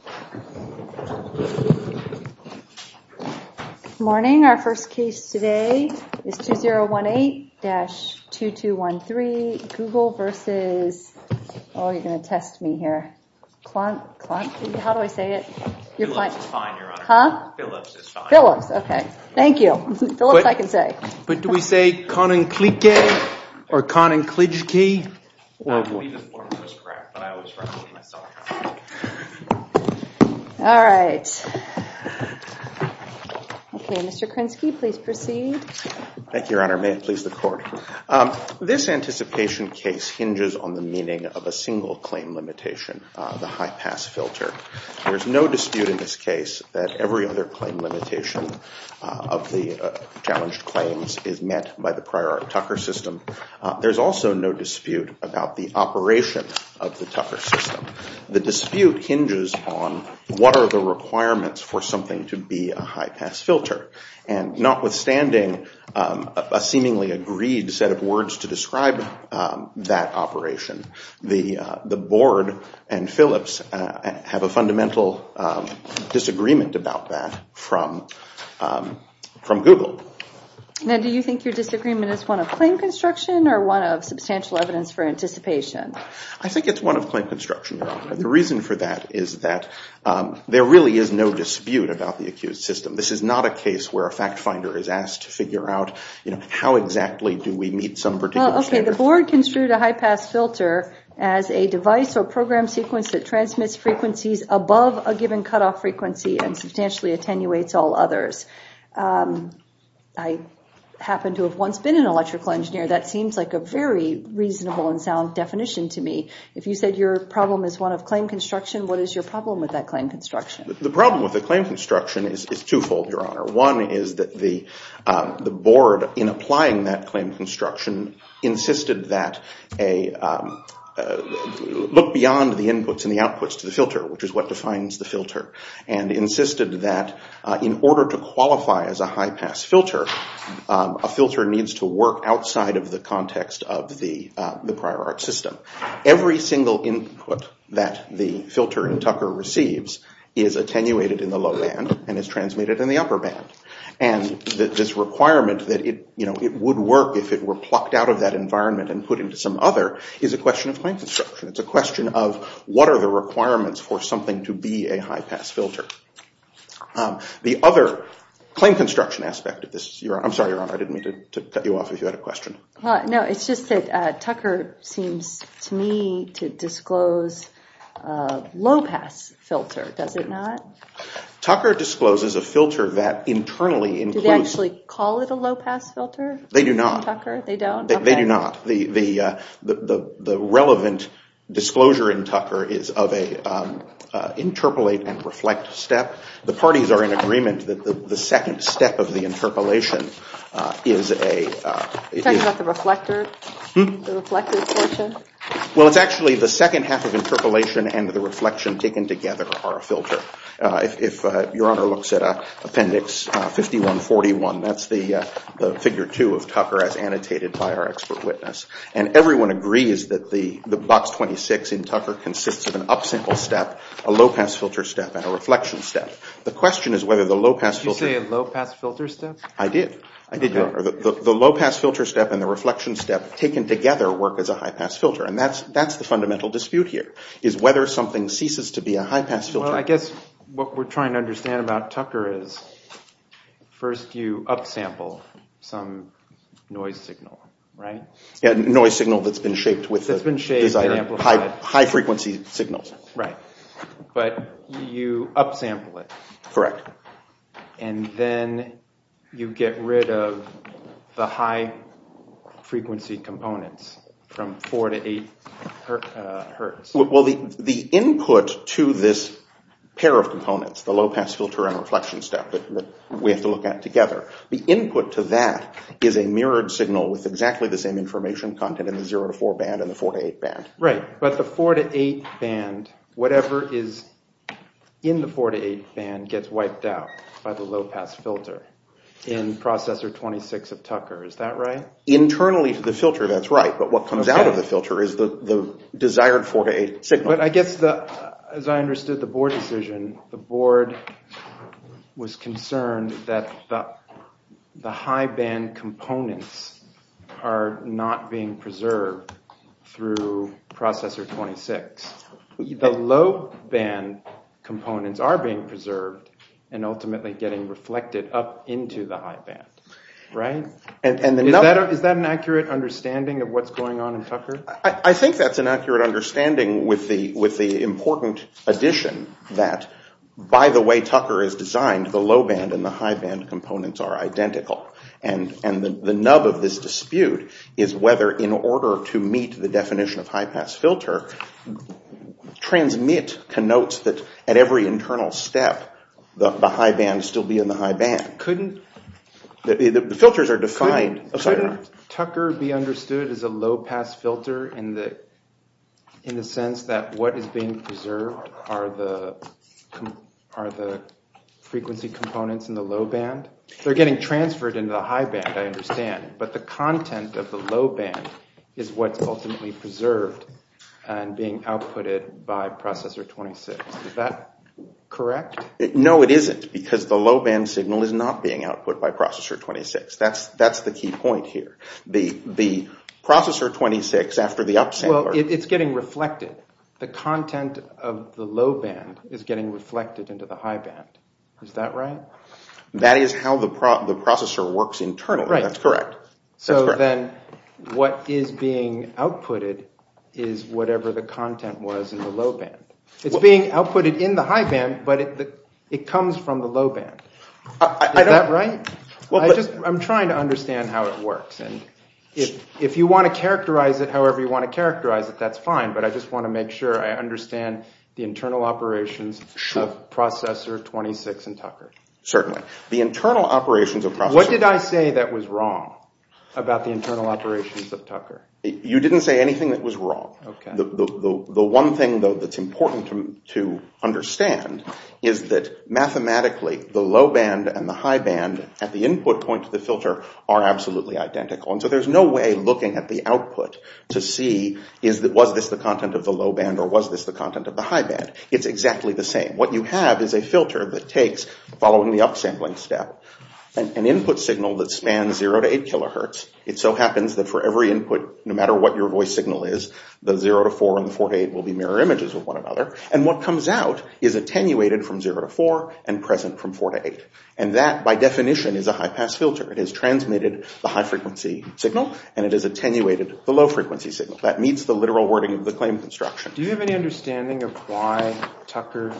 Good morning, our first case today is 2018-2213 Google versus, oh you're gonna test me here, Klonk, Klonk, how do I say it? Philips is fine, your honor. Huh? Philips is fine. Philips, okay. Thank you. But do we say Koninklijke or Koninklijski. All right. Okay, Mr. Krinsky, please proceed. Thank you, your honor. May it please the court. This anticipation case hinges on the meaning of a single claim limitation, the high pass filter. There's no dispute in this limitation of the challenged claims is met by the prior Tucker system. There's also no dispute about the operation of the Tucker system. The dispute hinges on what are the requirements for something to be a high pass filter and not withstanding a seemingly agreed set of words to describe that operation, the from Google. Now do you think your disagreement is one of claim construction or one of substantial evidence for anticipation? I think it's one of claim construction, your honor. The reason for that is that there really is no dispute about the accused system. This is not a case where a fact finder is asked to figure out, you know, how exactly do we meet some particular standard. Okay, the board construed a high pass filter as a device or program sequence that transmits frequencies above a given cutoff frequency and substantially attenuates all others. I happen to have once been an electrical engineer. That seems like a very reasonable and sound definition to me. If you said your problem is one of claim construction, what is your problem with that claim construction? The problem with the claim construction is twofold, your honor. One is that the the board in applying that claim construction insisted that a look beyond the inputs and the outputs to the filter, which is what defines the filter, and insisted that in order to qualify as a high pass filter, a filter needs to work outside of the context of the the prior art system. Every single input that the filter in Tucker receives is attenuated in the low band and is transmitted in the upper band. And this requirement that it, you know, it would work if it were plucked out of that environment and put into some other is a question of claim requirements for something to be a high pass filter. The other claim construction aspect of this, I'm sorry your honor, I didn't mean to cut you off if you had a question. No, it's just that Tucker seems to me to disclose a low pass filter, does it not? Tucker discloses a filter that internally includes... Do they actually call it a low pass filter? They do not. They don't? They do not. The relevant disclosure in Tucker is of a interpolate and reflect step. The parties are in agreement that the second step of the interpolation is a... Are you talking about the reflector? Well, it's actually the second half of interpolation and the reflection taken together are a filter. If your honor looks at a appendix 5141, that's the figure 2 of Tucker as annotated by our expert witness. And everyone agrees that the box 26 in Tucker consists of an upsample step, a low pass filter step, and a reflection step. The question is whether the low pass filter... Did you say a low pass filter step? I did. The low pass filter step and the reflection step taken together work as a high pass filter and that's the fundamental dispute here, is whether something ceases to be a high pass filter. Well, I guess what we're trying to understand about Tucker is first you upsample some noise signal, right? Yeah, noise signal that's been shaped with high frequency signals. Right, but you upsample it. Correct. And then you get rid of the high frequency components from 4 to 8 Hz. Well, the input to this pair of components, the low pass filter and reflection step that we have to look at together, the input to that is a 0 to 4 band and the 4 to 8 band. Right, but the 4 to 8 band, whatever is in the 4 to 8 band gets wiped out by the low pass filter in processor 26 of Tucker, is that right? Internally to the filter, that's right, but what comes out of the filter is the desired 4 to 8 signal. But I guess, as I understood the board decision, the board was concerned that the high band components are not being preserved through processor 26. The low band components are being preserved and ultimately getting reflected up into the high band, right? Is that an accurate understanding of what's going on in Tucker? I think that's an accurate understanding with the important addition that, by the way Tucker is designed, the low band and the high band components are identical. And the order to meet the definition of high pass filter, transmit connotes that at every internal step, the high band still be in the high band. Couldn't Tucker be understood as a low pass filter in the sense that what is being preserved are the frequency components in the low band. They're getting transferred into the high band I understand, but the content of the low band is what's ultimately preserved and being outputted by processor 26. Is that correct? No it isn't, because the low band signal is not being output by processor 26. That's the key point here. The processor 26, after the upsampler... Well, it's getting reflected. The content of the low band is getting reflected into the high band. Is that right? That is how the processor works internally, that's what is being outputted is whatever the content was in the low band. It's being outputted in the high band, but it comes from the low band. I'm trying to understand how it works and if you want to characterize it however you want to characterize it, that's fine, but I just want to make sure I understand the internal operations of processor 26 and Tucker. Certainly. The internal operations of processor... What did I say that was wrong about the internal operations of Tucker? You didn't say anything that was wrong. The one thing though that's important to understand is that mathematically the low band and the high band at the input point to the filter are absolutely identical and so there's no way looking at the output to see was this the content of the low band or was this the content of the high band. It's exactly the same. What you have is a input signal that spans 0 to 8 kilohertz. It so happens that for every input, no matter what your voice signal is, the 0 to 4 and the 4 to 8 will be mirror images of one another and what comes out is attenuated from 0 to 4 and present from 4 to 8 and that by definition is a high-pass filter. It has transmitted the high frequency signal and it is attenuated the low frequency signal. That meets the literal wording of the claim construction. Do you have any understanding of why Tucker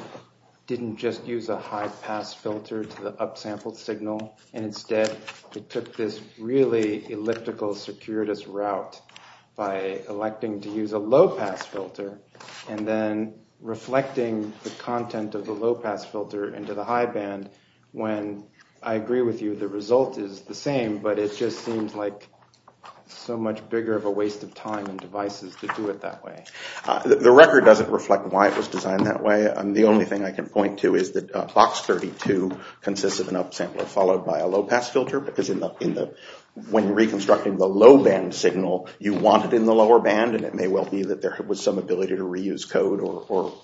didn't just use a high-pass filter to the upsampled signal and instead it took this really elliptical circuitous route by electing to use a low-pass filter and then reflecting the content of the low-pass filter into the high band when I agree with you the result is the same but it just seems like so much bigger of a waste of time and devices to do it that way. The record doesn't reflect why it was designed that way and the only thing I can point to is that box 32 consists of an upsampler followed by a low-pass filter because when reconstructing the low band signal you want it in the lower band and it may well be that there was some ability to reuse code or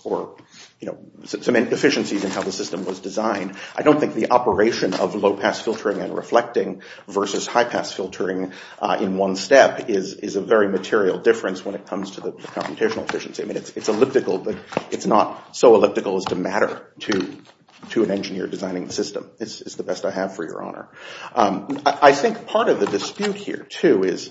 you know some inefficiencies in how the system was designed. I don't think the operation of low-pass filtering and reflecting versus high-pass filtering in one step is a very material difference when it comes to the computational efficiency. I mean it's elliptical but it's not so to an engineer designing the system. This is the best I have for your honor. I think part of the dispute here too is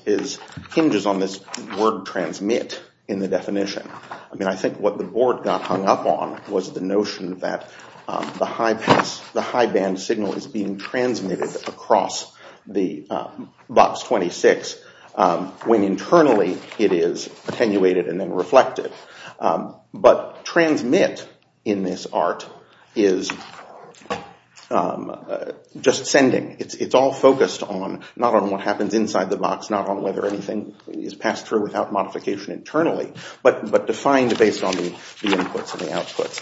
hinges on this word transmit in the definition. I mean I think what the board got hung up on was the notion that the high band signal is being transmitted across the box 26 when internally it is attenuated and then reflected but transmit in this part is just sending. It's all focused on not on what happens inside the box, not on whether anything is passed through without modification internally, but defined based on the inputs and the outputs.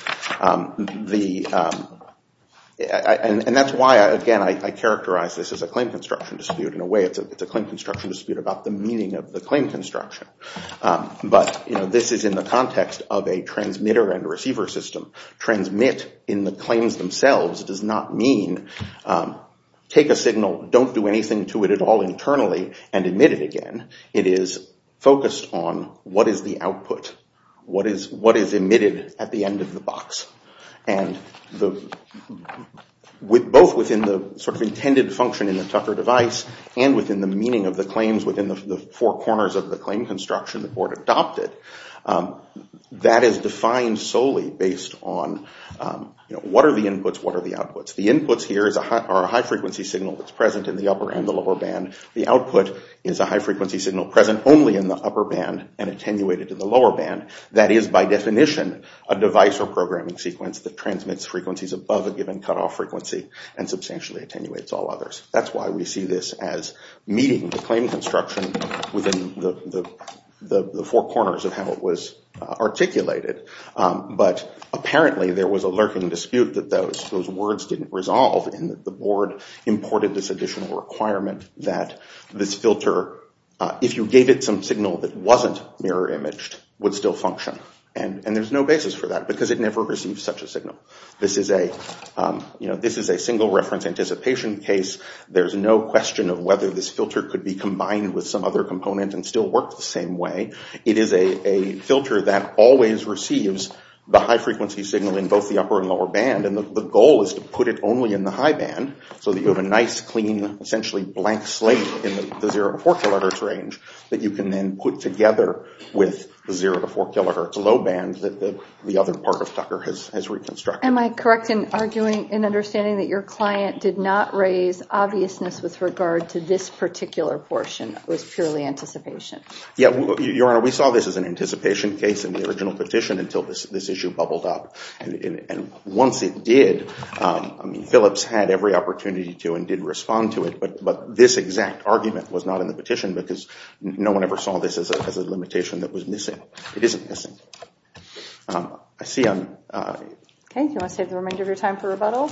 And that's why again I characterize this as a claim construction dispute. In a way it's a claim construction dispute about the meaning of the claim construction. But this is in the context of a transmitter and receiver system. Transmit in the claims themselves does not mean take a signal don't do anything to it at all internally and emit it again. It is focused on what is the output, what is emitted at the end of the box. And both within the sort of intended function in the Tucker device and within the meaning of the claims within the four corners of the claim construction the board adopted. That is defined solely based on what are the inputs, what are the outputs. The inputs here is a high frequency signal that's present in the upper and the lower band. The output is a high frequency signal present only in the upper band and attenuated to the lower band. That is by definition a device or programming sequence that transmits frequencies above a given cutoff frequency and substantially attenuates all others. That's why we see this as meeting the claim construction within the four corners of how it was articulated. But apparently there was a lurking dispute that those words didn't resolve and the board imported this additional requirement that this filter, if you gave it some signal that wasn't mirror imaged, would still function. And there's no basis for that because it never received such a signal. This is a single reference anticipation case. There's no question of whether this was combined with some other component and still worked the same way. It is a filter that always receives the high frequency signal in both the upper and lower band. And the goal is to put it only in the high band so that you have a nice clean essentially blank slate in the 0 to 4 kilohertz range that you can then put together with the 0 to 4 kilohertz low band that the other part of Tucker has reconstructed. Am I correct in arguing and understanding that your purely anticipation? Yeah, Your Honor, we saw this as an anticipation case in the original petition until this issue bubbled up. And once it did, Phillips had every opportunity to and did respond to it, but this exact argument was not in the petition because no one ever saw this as a limitation that was missing. It isn't missing. I see on... Okay, do you want to save the remainder of your time for the court?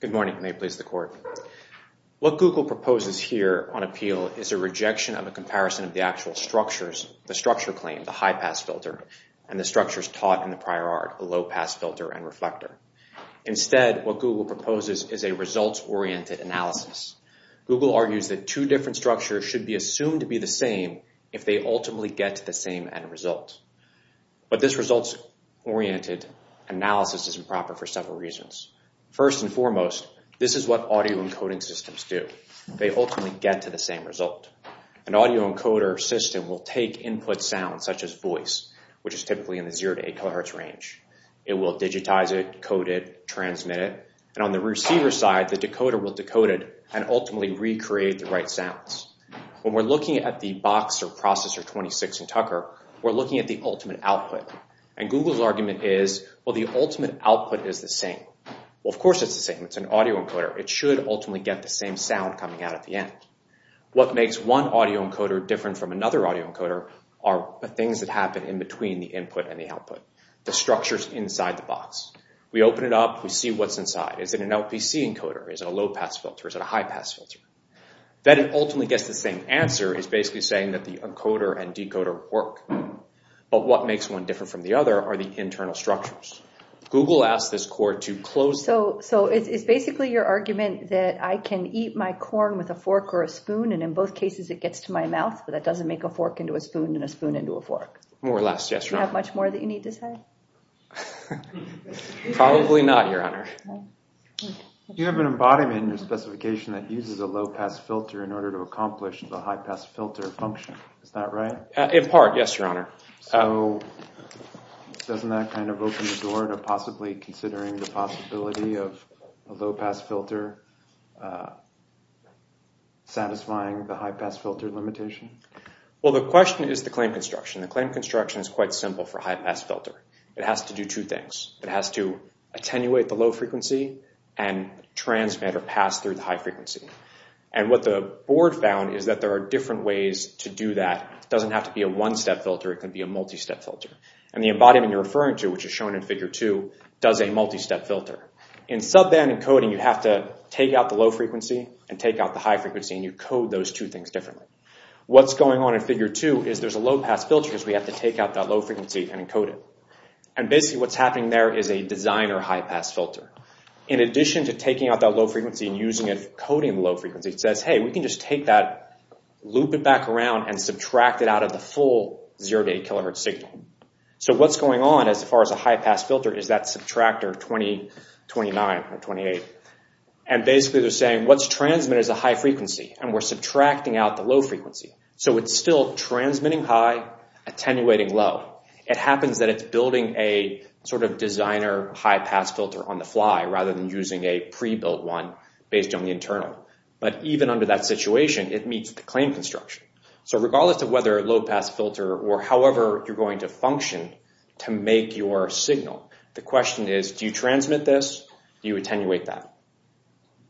Good morning. May it please the court. What Google proposes here on appeal is a rejection of a comparison of the actual structures, the structure claim, the high pass filter, and the structures taught in the prior art, a low pass filter and reflector. Instead, what Google proposes is a results-oriented analysis. Google argues that two different structures should be assumed to be the same if they ultimately get to the same end result. But this results-oriented analysis is improper for several reasons. First and foremost, this is what audio encoding systems do. They ultimately get to the same result. An audio encoder system will take input sounds such as voice, which is typically in the 0 to 8 kilohertz range. It will digitize it, code it, transmit it, and on the receiver side, the decoder will decode it and ultimately recreate the right sounds. When we're looking at the Boxer processor 26 and Tucker, we're looking at the ultimate output. And Google's argument is, well, the ultimate output is the same. Well, of course it's the same. It's an audio encoder. It should ultimately get the same sound coming out at the end. What makes one audio encoder different from another audio encoder are the things that happen in between the input and the output, the structures inside the box. We open it up. We see what's inside. Is it an LPC encoder? Is it a low-pass filter? Is it a high-pass filter? Then it ultimately gets the same answer. It's basically saying that the encoder and decoder work. But what makes one different from the other are the internal structures. Google asked this court to close... So it's basically your argument that I can eat my corn with a fork or a spoon and in both cases it gets to my mouth, but that doesn't make a fork. More or less, yes. Do you have much more that you need to say? Probably not, Your Honor. You have an embodiment in your specification that uses a low-pass filter in order to accomplish the high-pass filter function. Is that right? In part, yes, Your Honor. So doesn't that kind of open the door to possibly considering the possibility of a low-pass filter satisfying the high-pass filter limitation? Well, the question is the claim construction. The claim construction is quite simple for high-pass filter. It has to do two things. It has to attenuate the low-frequency and transmit or pass through the high-frequency. And what the board found is that there are different ways to do that. It doesn't have to be a one-step filter. It can be a multi-step filter. And the embodiment you're referring to, which is shown in Figure 2, does a multi-step filter. In subband encoding, you have to take out the low-frequency and take out the high-frequency and you code those two things differently. What's going on in Figure 2 is there's a low-pass filter because we have to take out that low-frequency and encode it. And basically what's happening there is a designer high-pass filter. In addition to taking out that low-frequency and using it for coding the low-frequency, it says, hey, we can just take that, loop it back around, and subtract it out of the full 0 to 8 kilohertz signal. So what's going on as far as a high-pass filter is that subtractor 20, 29, or 28. And basically they're saying what's transmitted is a high-frequency and we're subtracting out the low-frequency. So it's still transmitting high, attenuating low. It happens that it's building a sort of designer high-pass filter on the fly rather than using a pre-built one based on the internal. But even under that situation, it meets the claim construction. So regardless of whether a low-pass filter or however you're going to function to make your signal, the question is, do you transmit this? Do you miss it?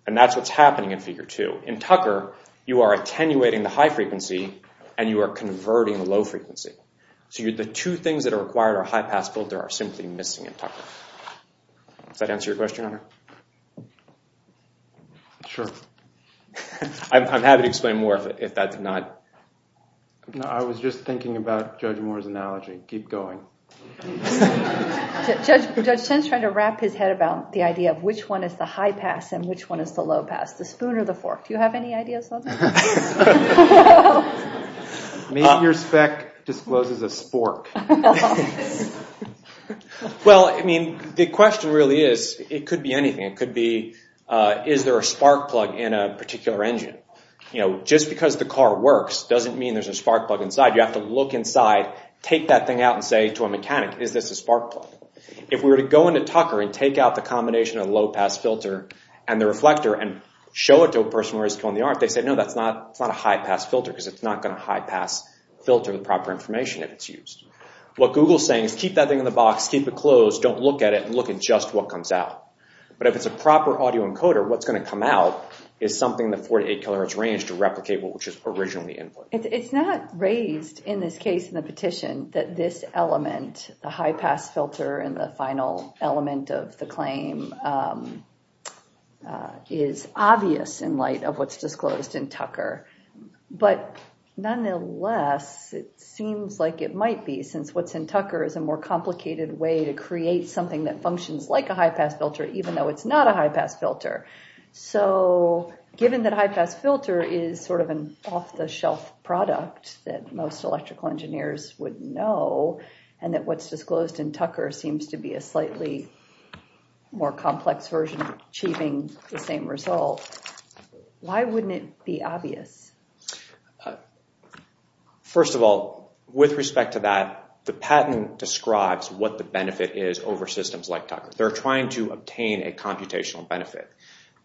In Tucker, you are attenuating the high-frequency and you are converting the low-frequency. So the two things that are required are high-pass filter are simply missing in Tucker. Does that answer your question, Hunter? Sure. I'm happy to explain more if that's not... No, I was just thinking about Judge Moore's analogy. Keep going. Judge Chen's trying to wrap his head about the idea of which one is the high-pass and which one is the low-pass. The spoon or the fork? Do you have any ideas? Maybe your spec discloses a spork. Well, I mean, the question really is, it could be anything. It could be, is there a spark plug in a particular engine? You know, just because the car works doesn't mean there's a spark plug inside. You have to look inside, take that thing out, and say to a mechanic, is this a spark plug? If we were to go into Tucker and take out the combination of low-pass filter and the reflector and show it to a person who is killing the art, they say, no, that's not a high-pass filter because it's not going to high-pass filter the proper information if it's used. What Google's saying is keep that thing in the box, keep it closed, don't look at it, look at just what comes out. But if it's a proper audio encoder, what's going to come out is something the 4 to 8 kilohertz range to replicate what was just originally input. It's not raised in this case in the petition that this element, the high-pass filter and the final element of the claim, is obvious in light of what's disclosed in Tucker. But nonetheless, it seems like it might be since what's in Tucker is a more complicated way to create something that functions like a high-pass filter even though it's not a high-pass filter. So given that high-pass filter is sort of an off-the-shelf product that most electrical engineers would know and that what's disclosed in Tucker seems to be a slightly more complex version of achieving the same result, why wouldn't it be obvious? First of all, with respect to that, the patent describes what the benefit is over systems like Tucker. They're trying to obtain a computational benefit.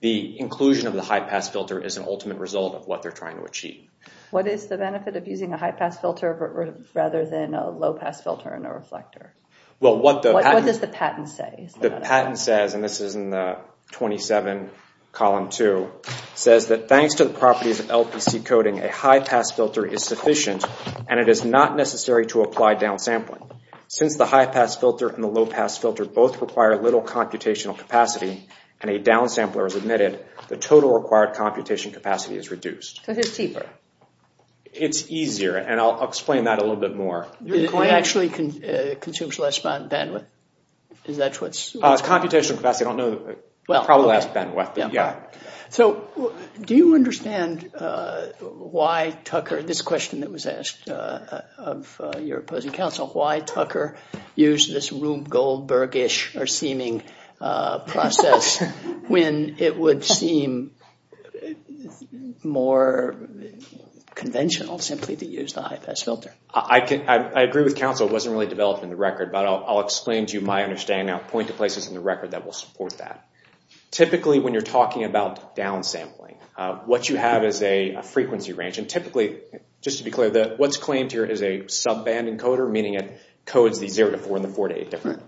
The inclusion of the high-pass filter is an ultimate result of what they're trying to achieve. What is the benefit of using a high-pass filter rather than a low-pass filter and a reflector? What does the patent say? The patent says, and this is in the 27, column 2, says that thanks to the properties of LPC coding, a high-pass filter is sufficient and it is not necessary to apply downsampling. Since the high-pass filter and the low-pass filter both require little computational capacity and a downsampler is admitted, the total required computation capacity is reduced. Because it's cheaper. It's easier, and I'll explain that a little bit more. It actually consumes less bandwidth? It's computational capacity. I don't know. Probably less bandwidth, but yeah. So, do you understand why Tucker, this question that was asked of your opposing counsel, why Tucker used this Rube Goldberg-ish or seeming process when it would seem more conventional simply to use the high-pass filter? I agree with counsel. It wasn't really developed in the record, but I'll explain to you my understanding and I'll point to places in the record that will support that. Typically, when you're talking about downsampling, what you have is a frequency range, and typically, just to be clear, what's claimed here is a subband encoder, meaning it codes the 0-4 and the 4-8 differently.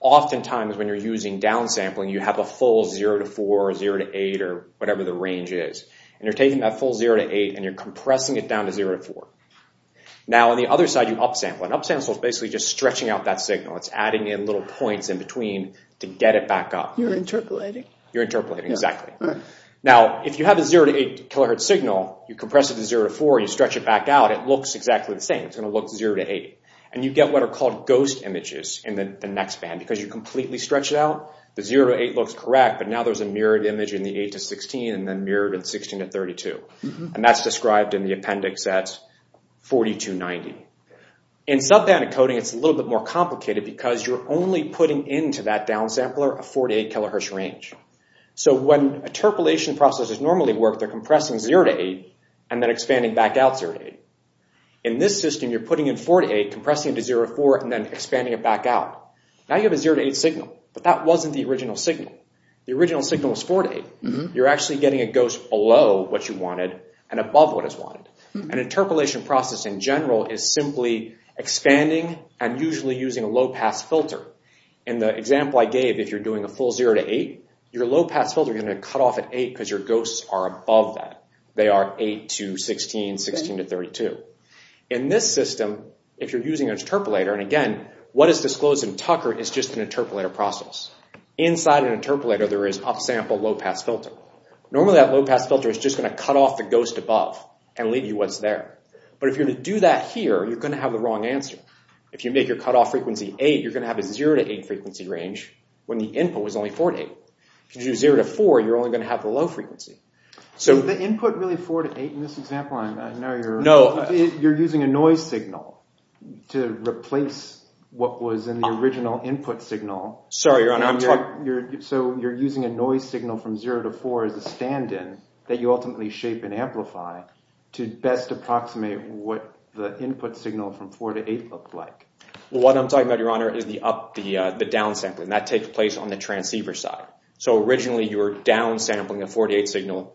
Oftentimes, when you're using downsampling, you have a full 0-4 or 0-8 or whatever the range is, and you're taking that full 0-8 and you're compressing it down to 0-4. Now, on the other side, you upsample. An upsample is basically just stretching out that signal. It's adding in little points in between to get it back up. You're interpolating. You're interpolating, exactly. Now, if you have a 0-8 kHz signal, you compress it to 0-4, you stretch it back out, it looks exactly the same. It's going to look 0-8. And you get what are called ghost images in the next band, because you completely stretch it out, the 0-8 looks correct, but now there's a mirrored image in the 8-16 and then mirrored in 16-32. And that's described in the appendix at 42-90. In subband encoding, it's a little bit more complicated because you're only putting into that downsampler a 4-8 kHz range. So when interpolation processes normally work, they're compressing 0-8 and then expanding back out 0-8. In this system, you're putting in 4-8, compressing it to 0-4, and then expanding it back out. Now you have a 0-8 signal, but that wasn't the original signal. The original signal was 4-8. You're actually getting a ghost below what you wanted and above what is wanted. An interpolation process in general is simply expanding and usually using a low-pass filter. In the example I gave, if you're doing a full 0-8, your low-pass filter is going to cut off at 8 because your ghosts are above that. They are 8-16, 16-32. In this system, if you're using an interpolator, and again, what is disclosed in Tucker is just an interpolator process. Inside an interpolator, there is upsample low-pass filter. Normally, that low-pass filter is just going to cut off the ghost above and leave you what's there. But if you're going to do that here, you're going to have the wrong answer. If you make your cutoff frequency 8, you're going to have a 0-8 frequency range when the input was only 4-8. If you do 0-4, you're only going to have the low frequency. So... Is the input really 4-8 in this example? I know you're... No. You're using a noise signal to replace what was in the original input signal. Sorry, Your Honor. So you're using a noise signal from 0-4 as a stand-in that you ultimately shape and amplify to best approximate what the input signal from 4-8 looked like. What I'm talking about, Your Honor, is the downsampling. That takes place on the transceiver side. So originally, you're downsampling a 4-8 signal,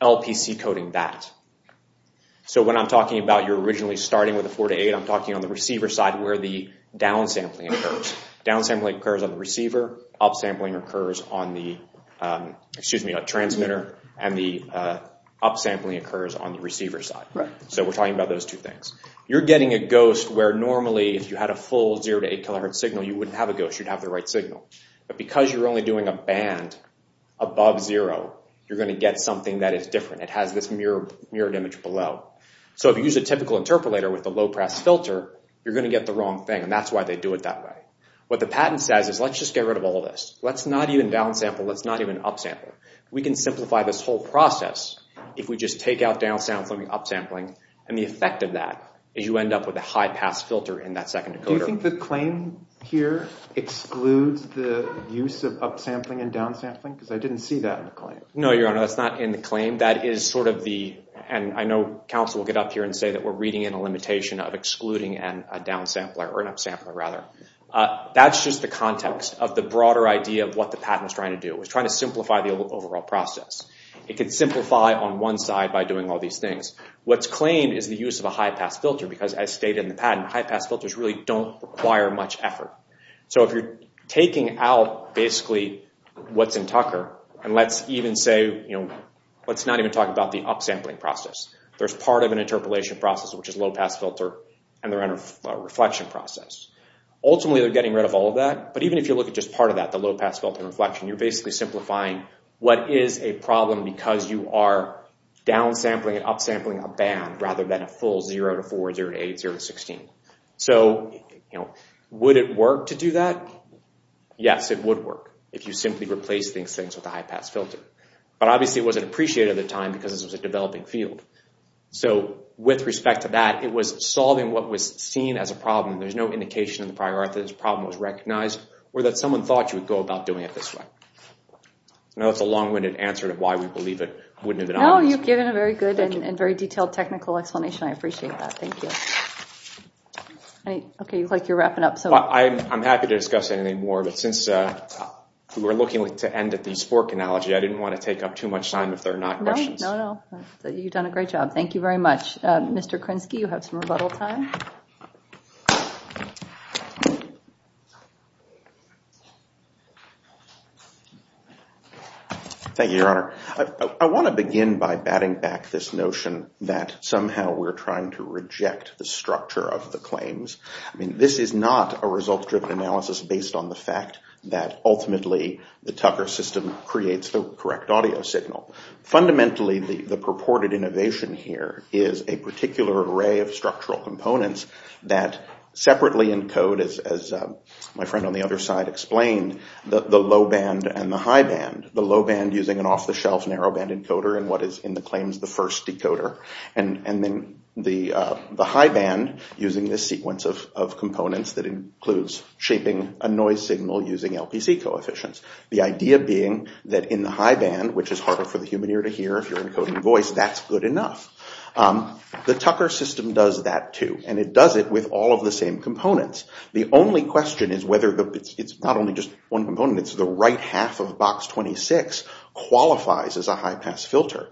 LPC coding that. So when I'm talking about you're originally starting with a 4-8, I'm talking on the receiver side where the downsampling occurs. Downsampling occurs on the receiver. Upsampling occurs on the transmitter. And the upsampling occurs on the receiver side. So we're talking about those two things. You're getting a ghost where normally if you had a full 0-8 kHz signal, you wouldn't have a ghost. You'd have the right signal. But because you're only doing a band above 0, you're going to get something that is different. It has this mirrored image below. So if you use a typical interpolator with a low-press filter, you're going to get the wrong thing. And that's why they do it that way. What the patent says is let's just get rid of all this. Let's not even downsample. Let's not even upsample. We can simplify this whole process if we just take out downsampling, upsampling, and the effect of that is you end up with a high-pass filter in that second decoder. Do you think the claim here excludes the use of upsampling and downsampling? Because I didn't see that in the claim. No, Your Honor. That's not in the claim. That is sort of the – and I know counsel will get up here and say that we're reading in a limitation of excluding a downsampler or an upsampler rather. That's just the context of the broader idea of what the patent is trying to do. It was trying to simplify the overall process. It could simplify on one side by doing all these things. What's claimed is the use of a high-pass filter because, as stated in the patent, high-pass filters really don't require much effort. So if you're taking out basically what's in Tucker, and let's even say – let's not even talk about the upsampling process. There's part of an interpolation process, which is low-pass filter, and the reflection process. Ultimately, they're getting rid of all of that. But even if you look at just part of that, the low-pass filter and reflection, you're basically simplifying what is a problem because you are downsampling and upsampling a band rather than a full 0 to 4, 0 to 8, 0 to 16. So would it work to do that? Yes, it would work if you simply replaced these things with a high-pass filter. But obviously, it wasn't appreciated at the time because this was a developing field. So with respect to that, it was solving what was seen as a problem. There's no indication in the prior art that this problem was recognized or that someone thought you would go about doing it this way. I know that's a long-winded answer to why we believe it wouldn't have been obvious. No, you've given a very good and very detailed technical explanation. I appreciate that. Thank you. Okay, you look like you're wrapping up. I'm happy to discuss anything more. But since we're looking to end at the SPORC analogy, I didn't want to take up too much time if there are not questions. No, no, no. You've done a great job. Thank you very much. Mr. Krinsky, you have some rebuttal time. Thank you, Your Honor. I want to begin by batting back this notion that somehow we're trying to reject the structure of the claims. I mean, this is not a result-driven analysis based on the fact that ultimately the Tucker system creates the correct audio signal. Fundamentally, the purported innovation here is a particular array of structural components that separately encode, as my friend on the other side explained, the low band and the high band. The low band using an off-the-shelf narrow-band encoder and what is in the claims the first decoder. And then the high band using this sequence of components that includes shaping a noise signal using LPC coefficients. The idea being that in the high band, which is harder for the human ear to hear if you're encoding voice, that's good enough. The Tucker system does that, too. And it does it with all of the same components. The only question is whether it's not only just one component, it's the right half of box 26 qualifies as a high-pass filter.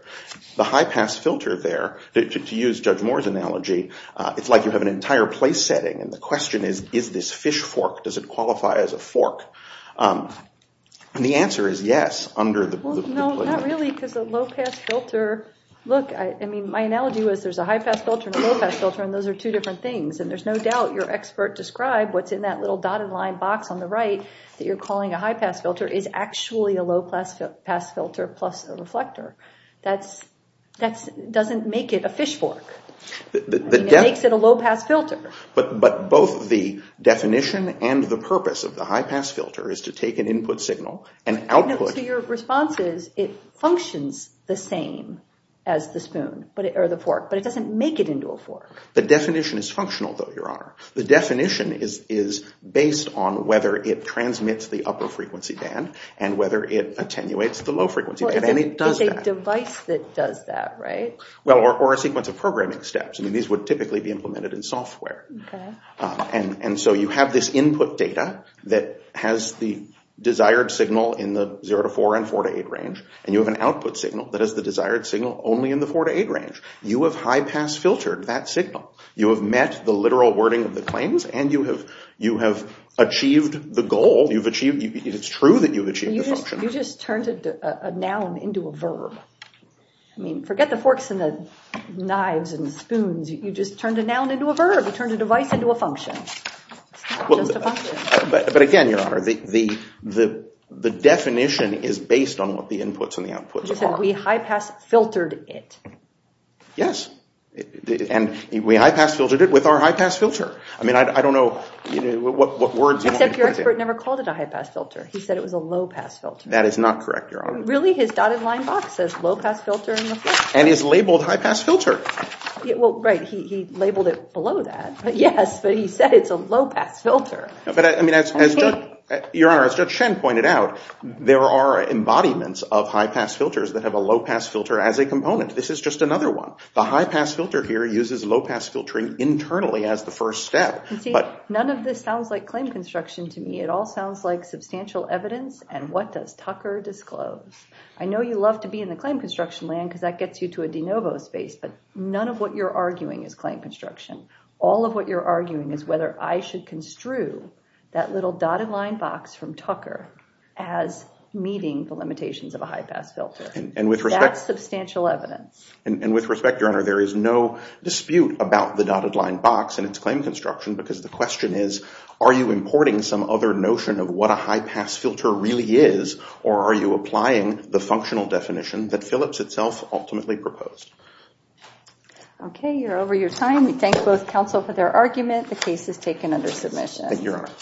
The high-pass filter there, to use Judge Moore's analogy, it's like you have an entire place setting. And the question is, is this fish fork? Does it qualify as a fork? And the answer is yes, under the… No, not really, because a low-pass filter, look, I mean, my analogy was there's a high-pass filter and a low-pass filter, and those are two different things. And there's no doubt your expert described what's in that little dotted line box on the right that you're calling a high-pass filter is actually a low-pass filter plus a reflector. That doesn't make it a fish fork. It makes it a low-pass filter. But both the definition and the purpose of the high-pass filter is to take an input signal and output… No, so your response is it functions the same as the spoon or the fork, but it doesn't make it into a fork. The definition is functional, though, Your Honor. The definition is based on whether it transmits the upper frequency band and whether it attenuates the low frequency band. And it does that. Well, it's a device that does that, right? Well, or a sequence of programming steps. I mean, these would typically be implemented in software. And so you have this input data that has the desired signal in the 0 to 4 and 4 to 8 range, and you have an output signal that has the desired signal only in the 4 to 8 range. You have high-pass filtered that signal. You have met the literal wording of the claims, and you have achieved the goal. It's true that you've achieved the function. You just turned a noun into a verb. I mean, forget the forks and the knives and the spoons. You just turned a noun into a verb. You turned a device into a function. It's not just a function. But again, Your Honor, the definition is based on what the inputs and the outputs are. You said we high-pass filtered it. Yes, and we high-pass filtered it with our high-pass filter. I mean, I don't know what words you want me to put in. Except your expert never called it a high-pass filter. He said it was a low-pass filter. That is not correct, Your Honor. Really, his dotted line box says low-pass filter in the form. And it's labeled high-pass filter. Well, right, he labeled it below that. Yes, but he said it's a low-pass filter. But I mean, Your Honor, as Judge Shen pointed out, there are embodiments of high-pass filters that have a low-pass filter as a component. This is just another one. The high-pass filter here uses low-pass filtering internally as the first step. See, none of this sounds like claim construction to me. It all sounds like substantial evidence, and what does Tucker disclose? I know you love to be in the claim construction land because that gets you to a de novo space, but none of what you're arguing is claim construction. All of what you're arguing is whether I should construe that little dotted line box from Tucker as meeting the limitations of a high-pass filter. That's substantial evidence. And with respect, Your Honor, there is no dispute about the dotted line box and its claim construction because the question is, are you importing some other notion of what a high-pass filter really is, or are you applying the functional definition that Phillips itself ultimately proposed? Okay, you're over your time. We thank both counsel for their argument. The case is taken under submission. Thank you, Your Honor.